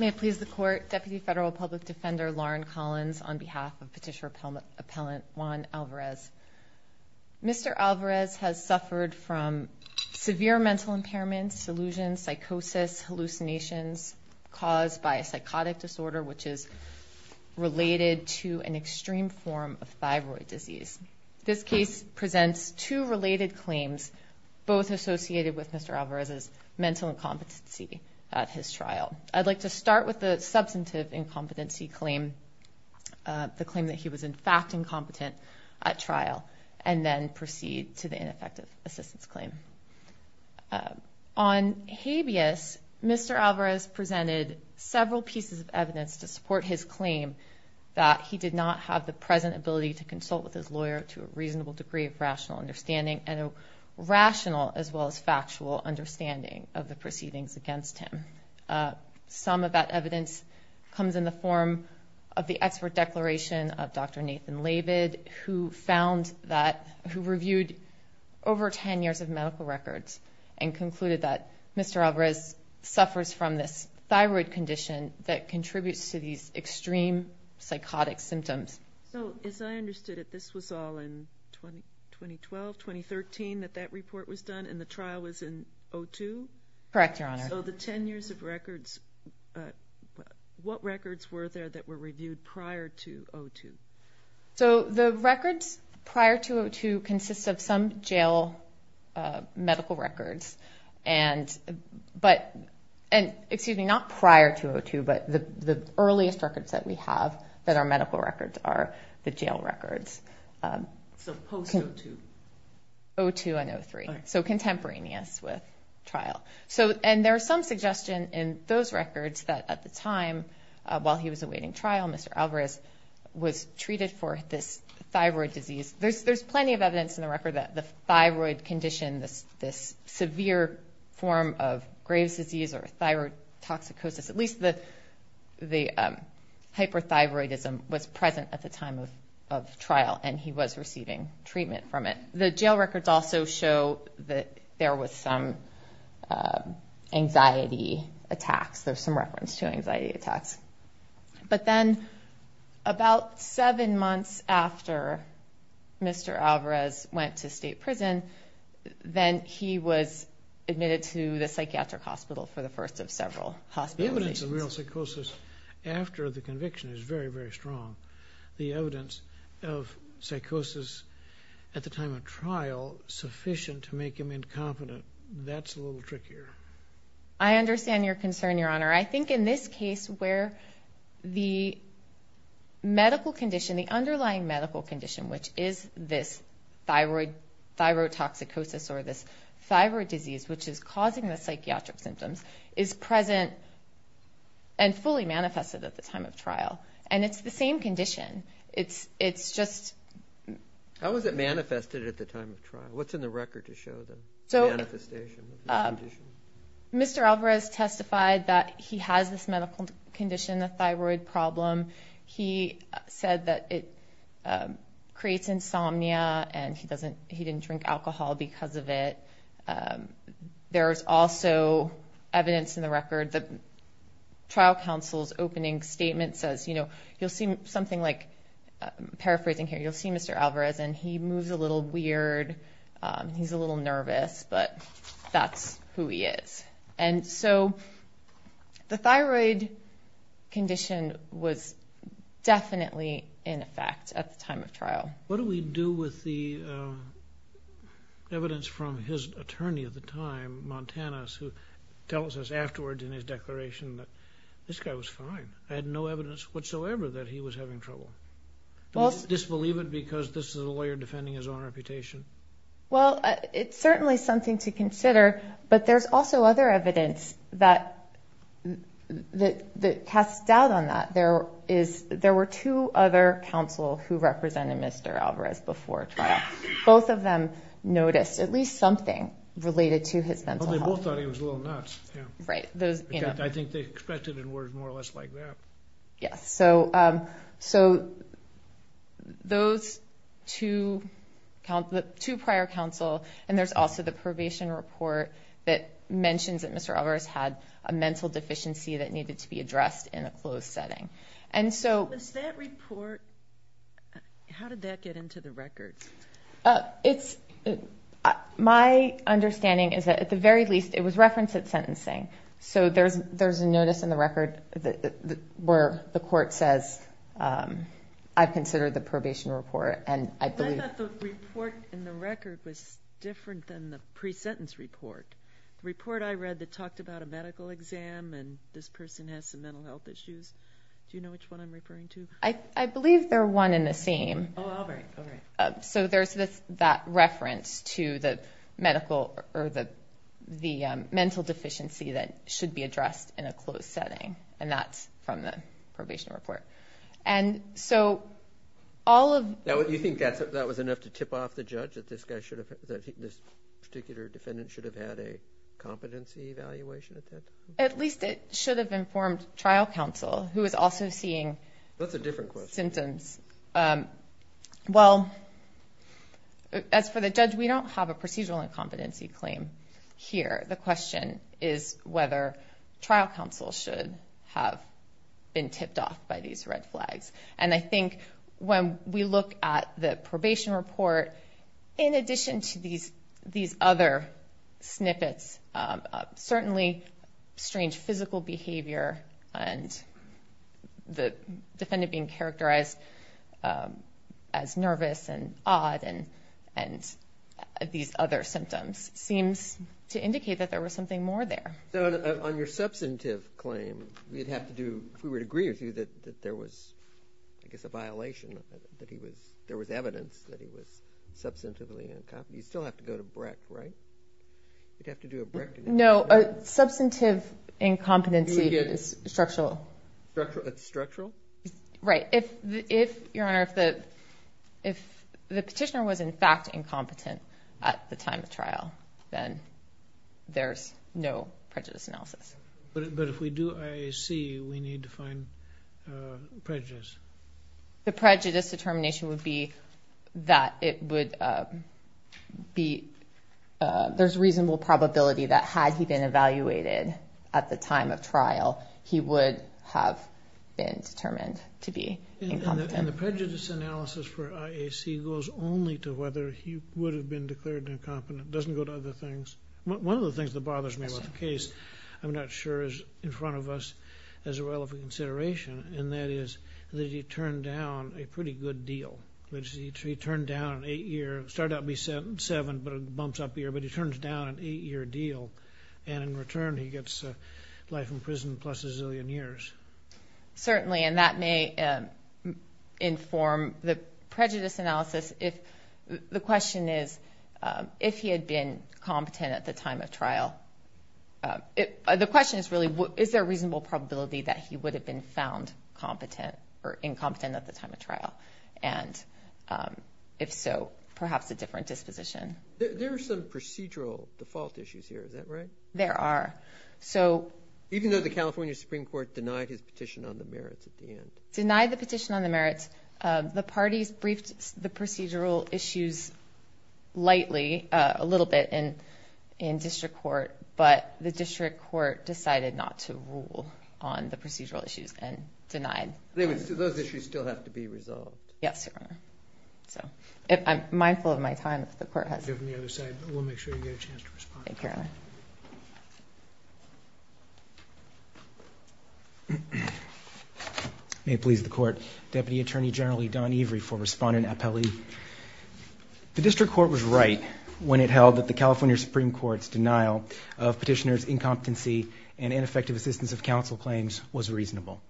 May it please the court, Deputy Federal Public Defender Lauren Collins on behalf of Petitioner Appellant Juan Alvarez. Mr. Alvarez has suffered from severe mental impairments, delusions, psychosis, hallucinations caused by a psychotic disorder which is related to an extreme form of thyroid disease. This case presents two related claims both associated with Mr. Alvarez's mental incompetency at his trial. I'd like to start with the substantive incompetency claim, the claim that he was in fact incompetent at trial and then proceed to the ineffective assistance claim. On habeas, Mr. Alvarez presented several pieces of evidence to support his claim that he did not have the present ability to consult with his lawyer to a reasonable degree of rational understanding and a him. Some of that evidence comes in the form of the expert declaration of Dr. Nathan Labid who found that, who reviewed over 10 years of medical records and concluded that Mr. Alvarez suffers from this thyroid condition that contributes to these extreme psychotic symptoms. So as I understood it, this was all in 2012, 2013 that that report was done and the trial was in 02? Correct, your honor. So the 10 years of records, what records were there that were reviewed prior to 02? So the records prior to 02 consists of some jail medical records and but, and excuse me, not prior to 02, but the earliest records that we have that are medical records are the jail records. So post 02? 02 and 03. So contemporaneous with trial. So, and there are some suggestion in those records that at the time while he was awaiting trial, Mr. Alvarez was treated for this thyroid disease. There's, there's plenty of evidence in the record that the thyroid condition, this, this severe form of Graves disease or thyroid toxicosis, at least the, the hyperthyroidism was present at the time. So there was some anxiety attacks. There's some reference to anxiety attacks, but then about seven months after Mr. Alvarez went to state prison, then he was admitted to the psychiatric hospital for the first of several hospitalizations. The evidence of real psychosis after the conviction is very, very strong. The evidence of psychosis at the time of trial sufficient to make him incompetent. That's a little trickier. I understand your concern, Your Honor. I think in this case where the medical condition, the underlying medical condition, which is this thyroid, thyroid toxicosis, or this thyroid disease, which is causing the psychiatric symptoms is present and fully manifested at the time of trial. And it's the same condition. It's, it's just. How was it manifested at the time of trial? What's in the record to show the manifestation? Mr. Alvarez testified that he has this medical condition, the thyroid problem. He said that it creates insomnia and he doesn't, he didn't drink alcohol because of it. There's also evidence in the record that trial counsel's opening statement says, you know, you'll see something like, paraphrasing here, you'll see Mr. Alvarez and he moves a little weird. He's a little nervous, but that's who he is. And so the thyroid condition was definitely in effect at the time of trial. What do we do with the evidence from his attorney at the time, Montanus, who tells us afterwards in his declaration that this guy was fine? I had no evidence whatsoever that he was having trouble. Disbelieve it because this is a lawyer defending his own reputation. Well, it's certainly something to consider, but there's also other evidence that, that, that casts doubt on that. There is, there were two other counsel who represented Mr. Alvarez before trial. Both of them noticed at least something related to his mental health. Well, they both thought he was a little nuts. I think they expected him to be more or less like that. Yes. So, so those two prior counsel, and there's also the probation report that mentions that Mr. Alvarez had a mental deficiency that needed to be addressed in a closed setting. And so... Does that report, how did that get into the records? It's, my understanding is that at the very least, it was referenced at sentencing. So there's, there's a notice in the record where the court says, I've considered the probation report and I believe... I thought the report in the record was different than the pre-sentence report. The report I read that talked about a medical exam and this person has some mental health issues. Do you know which one I'm referring to? I, I believe they're one in the same. Oh, all right. All right. So there's this, that reference to the medical or the, the mental deficiency that should be addressed in a closed setting. And that's from the probation report. And so all of... Now, do you think that's, that was enough to tip off the judge that this guy should have, that this particular defendant should have had a competency evaluation attempt? At least it should have informed trial counsel, who is also seeing... That's a different question. Symptoms. Well, as for the judge, we don't have a procedural incompetency claim here. The question is whether trial counsel should have been tipped off by these red flags. And I think when we look at the probation report, in addition to these, these other snippets, certainly strange physical behavior and the defendant being characterized as nervous and odd and, and these other symptoms seems to indicate that there was something more there. So on your substantive claim, we'd have to do, if we were to agree with you that there was, I guess, a violation, that he was, there was evidence that he was substantively incompetent. You still have to go to Breck, right? You'd have to do a Breck... No, a substantive incompetency is structural. Structural? Right. If, if, Your Honor, if the, if the petitioner was in fact incompetent at the time of trial, then there's no prejudice analysis. But if we do IAC, we need to find prejudice. The prejudice determination would be that it would be, there's reasonable probability that had he been evaluated at the time of trial, he would have been determined to be incompetent. And the prejudice analysis for IAC goes only to whether he would have been declared incompetent. It doesn't go to other things. One of the things that he turned down a pretty good deal. He turned down an eight-year, it started out to be seven, but it bumps up here, but he turns down an eight-year deal. And in return, he gets life in prison plus a zillion years. Certainly, and that may inform the prejudice analysis if, the question is, if he had been competent at the time of trial. The question is really, is there a reasonable probability that he would have been found competent or incompetent at the time of trial? And if so, perhaps a different disposition. There are some procedural default issues here, is that right? There are. So... Even though the California Supreme Court denied his petition on the merits at the end. Denied the petition on the merits. The parties briefed the procedural issues lightly, a little bit, in district court, but the district court decided not to rule on the procedural issues and denied. Those issues still have to be resolved. Yes, Your Honor. I'm mindful of my time if the court has... We'll make sure you get a chance to respond. Thank you, Your Honor. Thank you, Your Honor. May it please the court, Deputy Attorney General Don Every for respondent appellee. The district court was right when it held that the California Supreme Court's denial of petitioner's incompetency and ineffective assistance of counsel claims was reasonable.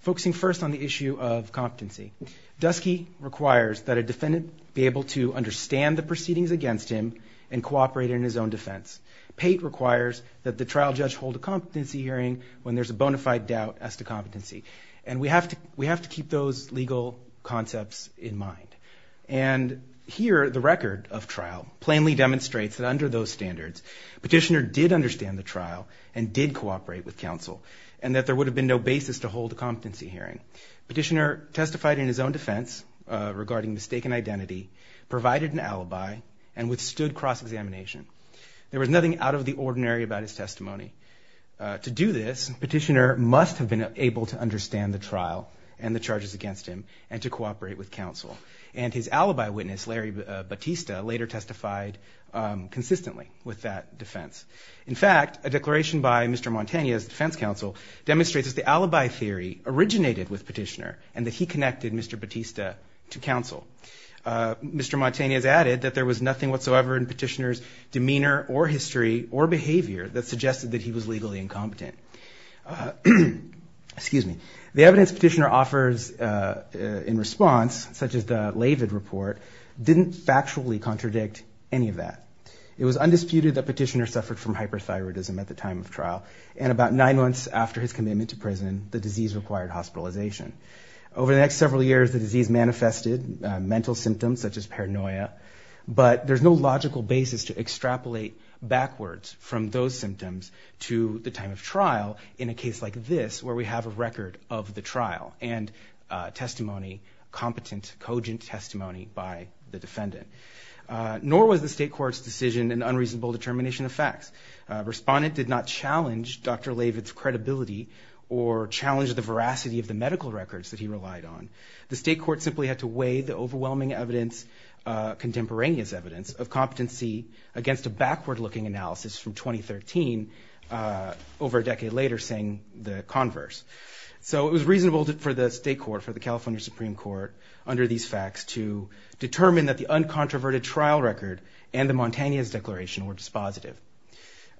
Focusing first on the issue of competency. Dusky requires that a defendant be able to understand the proceedings against him and cooperate in his own defense. Pate requires that the trial judge hold a competency hearing when there's a bona fide doubt as to competency. And we have to keep those legal concepts in mind. And here, the record of trial plainly demonstrates that under those standards, petitioner did understand the trial and did cooperate with counsel, and that there would have been no basis to hold a competency hearing. Petitioner testified in his own defense regarding mistaken identity, provided an alibi, and withstood cross-examination. There was nothing out of the ordinary about his testimony. To do this, petitioner must have been able to understand the trial and the charges against him and to cooperate with counsel. And his alibi witness, Larry Batista, later testified consistently with that defense. In fact, a declaration by Mr. Mantegna's defense counsel demonstrates that the alibi theory originated with petitioner and that he connected Mr. Batista to counsel. Mr. Mantegna has added that there was nothing whatsoever in petitioner's demeanor or history or behavior that suggested that he was legally incompetent. The evidence petitioner offers in response, such as the Lavid report, didn't factually contradict any of that. It was undisputed that petitioner suffered from hyperthyroidism at the time of trial, and about nine months after his commitment to prison, the disease required hospitalization. Over the next several years, the disease manifested mental symptoms, such as paranoia. But there's no logical basis to extrapolate backwards from those symptoms to the time of trial in a case like this, where we have a record of the trial and testimony, competent, cogent testimony by the defendant. Nor was the state court's decision an unreasonable determination of facts. Respondent did not challenge Dr. Lavid's credibility or challenge the veracity of the medical records that he relied on. The state court simply had to weigh the overwhelming evidence, contemporaneous evidence, of competency against a backward-looking analysis from 2013, over a decade later, saying the converse. So it was reasonable for the state court, for the California Supreme Court, under these facts to determine that the uncontroverted trial record and the Mantegna's declaration were dispositive.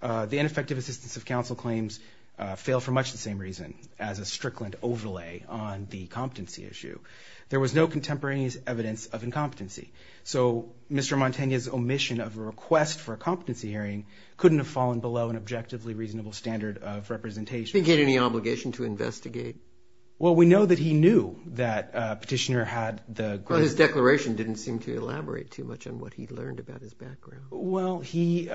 The ineffective assistance of counsel claims failed for much the same reason, as a strickland overlay on the competency issue. There was no contemporaneous evidence of incompetency. So Mr. Mantegna's omission of a request for a competency hearing couldn't have fallen below an objectively reasonable standard of representation. Did he get any obligation to investigate? Well, we know that he knew that petitioner had the... Well, his declaration didn't seem to elaborate too much on what he learned about his background. Well, he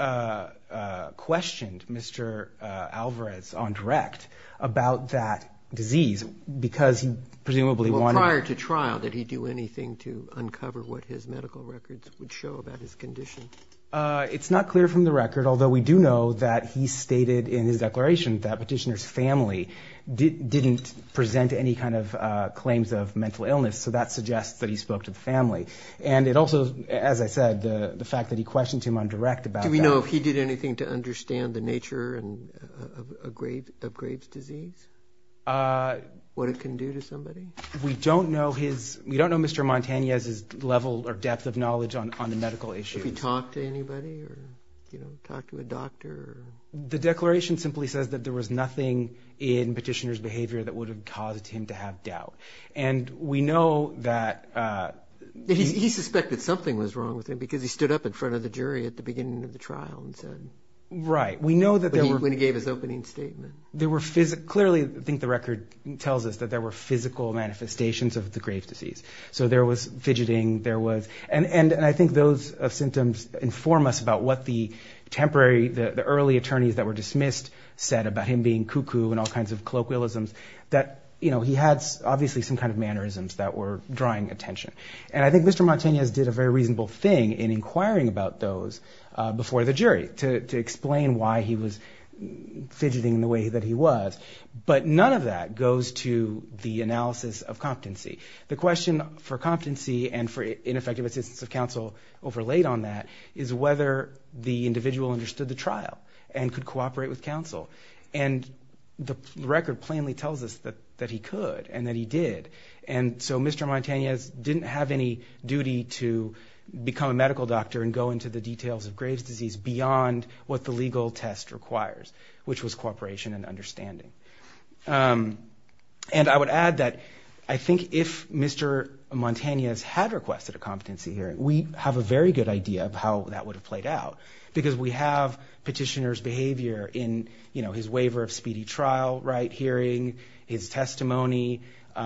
questioned Mr. Alvarez on direct about that disease, because he presumably wanted... Well, prior to trial, did he do anything to uncover what his medical records would show about his condition? It's not clear from the record, although we do know that he stated in his declaration that petitioner's family didn't present any kind of claims of mental illness. So that suggests that he spoke to the family. And it also, as I said, the fact that he questioned him on direct about that... Do we know if he did anything to understand the nature of Graves' disease? What it can do to somebody? We don't know his... We don't know Mr. Mantegna's level or depth of knowledge on the medical issue. Do we know if he talked to anybody or talked to a doctor? The declaration simply says that there was nothing in petitioner's behavior that would have caused him to have doubt. And we know that... He suspected something was wrong with him, because he stood up in front of the jury at the beginning of the trial and said... Right. We know that there were... We know that the evidence systems inform us about what the temporary, the early attorneys that were dismissed said about him being cuckoo and all kinds of colloquialisms. That he had, obviously, some kind of mannerisms that were drawing attention. And I think Mr. Mantegna did a very reasonable thing in inquiring about those before the jury to explain why he was fidgeting the way that he was. But none of that goes to the analysis of competency. The question for competency and for ineffective assistance of counsel overlaid on that is whether the individual understood the trial and could cooperate with counsel. And the record plainly tells us that he could and that he did. And so Mr. Mantegna didn't have any duty to become a medical doctor and go into the details of Graves' disease beyond what the legal test requires, which was cooperation and understanding. And I would add that I think if Mr. Mantegna had requested a competency hearing, we have a very good idea of how that would have played out. Because we have petitioner's behavior in his waiver of speedy trial hearing, his testimony,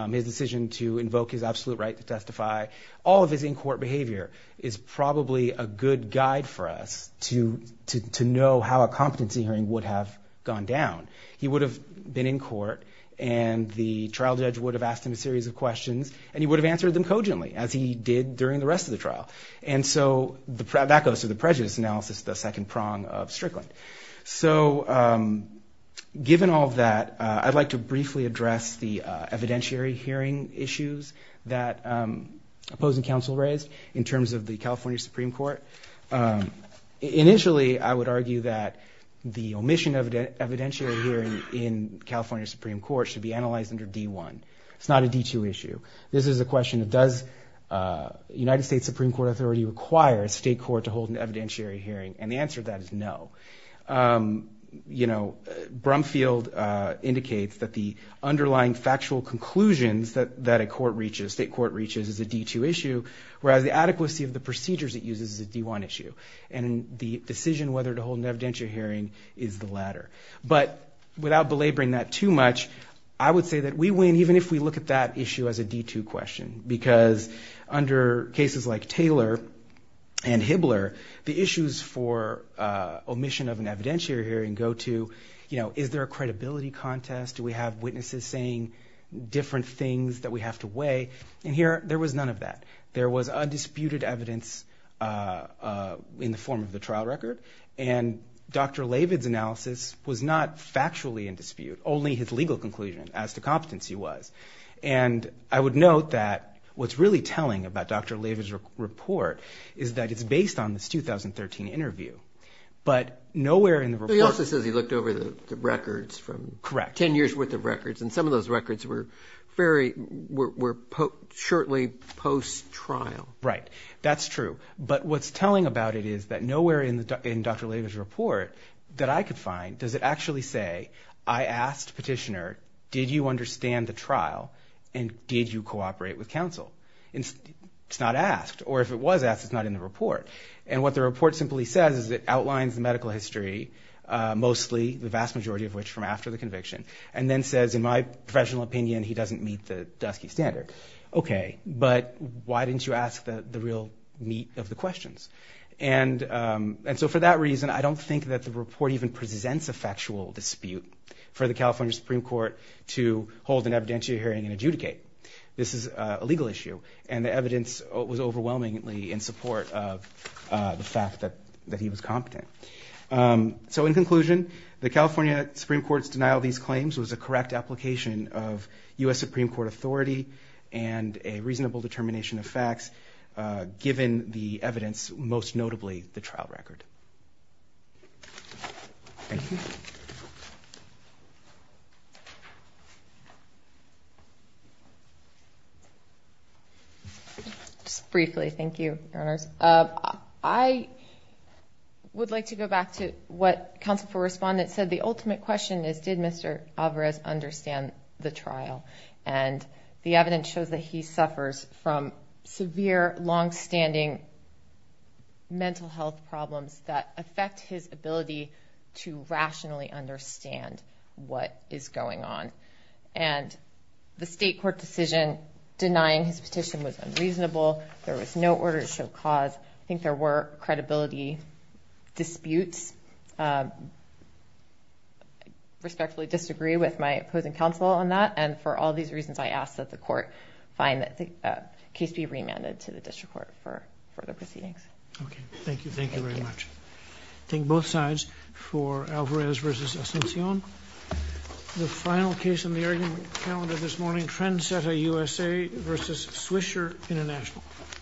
his decision to invoke his absolute right to testify. All of his in-court behavior is probably a good guide for us to know how a competency hearing would have gone down. He would have been in court and the trial judge would have asked him a series of questions and he would have answered them cogently, as he did during the rest of the trial. And so that goes to the prejudice analysis, the second prong of Strickland. So given all of that, I'd like to briefly address the evidentiary hearing issues that opposing counsel raised in terms of the California Supreme Court. Initially, I would argue that the omission of an evidentiary hearing in California Supreme Court should be analyzed under D-1. It's not a D-2 issue. This is a question of does the United States Supreme Court Authority require a state court to hold an evidentiary hearing? And the answer to that is no. Brumfield indicates that the underlying factual conclusions that a state court reaches is a D-2 issue, whereas the adequacy of the procedures it uses is a D-2 issue. And the decision whether to hold an evidentiary hearing is the latter. But without belaboring that too much, I would say that we win even if we look at that issue as a D-2 question. Because under cases like Taylor and Hibbler, the issues for omission of an evidentiary hearing go to, you know, is there a credibility contest? Do we have witnesses saying different things that we have to weigh? And here, there was none of that. There was undisputed evidence in the form of the trial record. And Dr. Lavid's analysis was not factually in dispute, only his legal conclusion as to competence he was. And I would note that what's really telling about Dr. Lavid's report is that it's based on this 2013 interview. But nowhere in the report... But shortly post-trial. Okay, but why didn't you ask the real meat of the questions? And so for that reason, I don't think that the report even presents a factual dispute for the California Supreme Court to hold an evidentiary hearing and adjudicate. This is a legal issue. And the evidence was overwhelmingly in support of the fact that he was competent. So in conclusion, the California Supreme Court's denial of these claims was a correct application of U.S. Supreme Court authority and a reasonable determination of facts, given the evidence, most notably the trial record. Thank you. Just briefly, thank you, Your Honors. I would like to go back to what counsel for respondents said. The ultimate question is, did Mr. Alvarez understand the trial? And the evidence shows that he suffers from severe, longstanding mental health problems that affect his ability to rationally understand what is going on. And the state court decision denying his petition was unreasonable. There was no order to show cause. I think there were credibility disputes. I respectfully disagree with my opposing counsel on that. And for all these reasons, I ask that the court find the case be remanded to the district court for further proceedings. Thank you.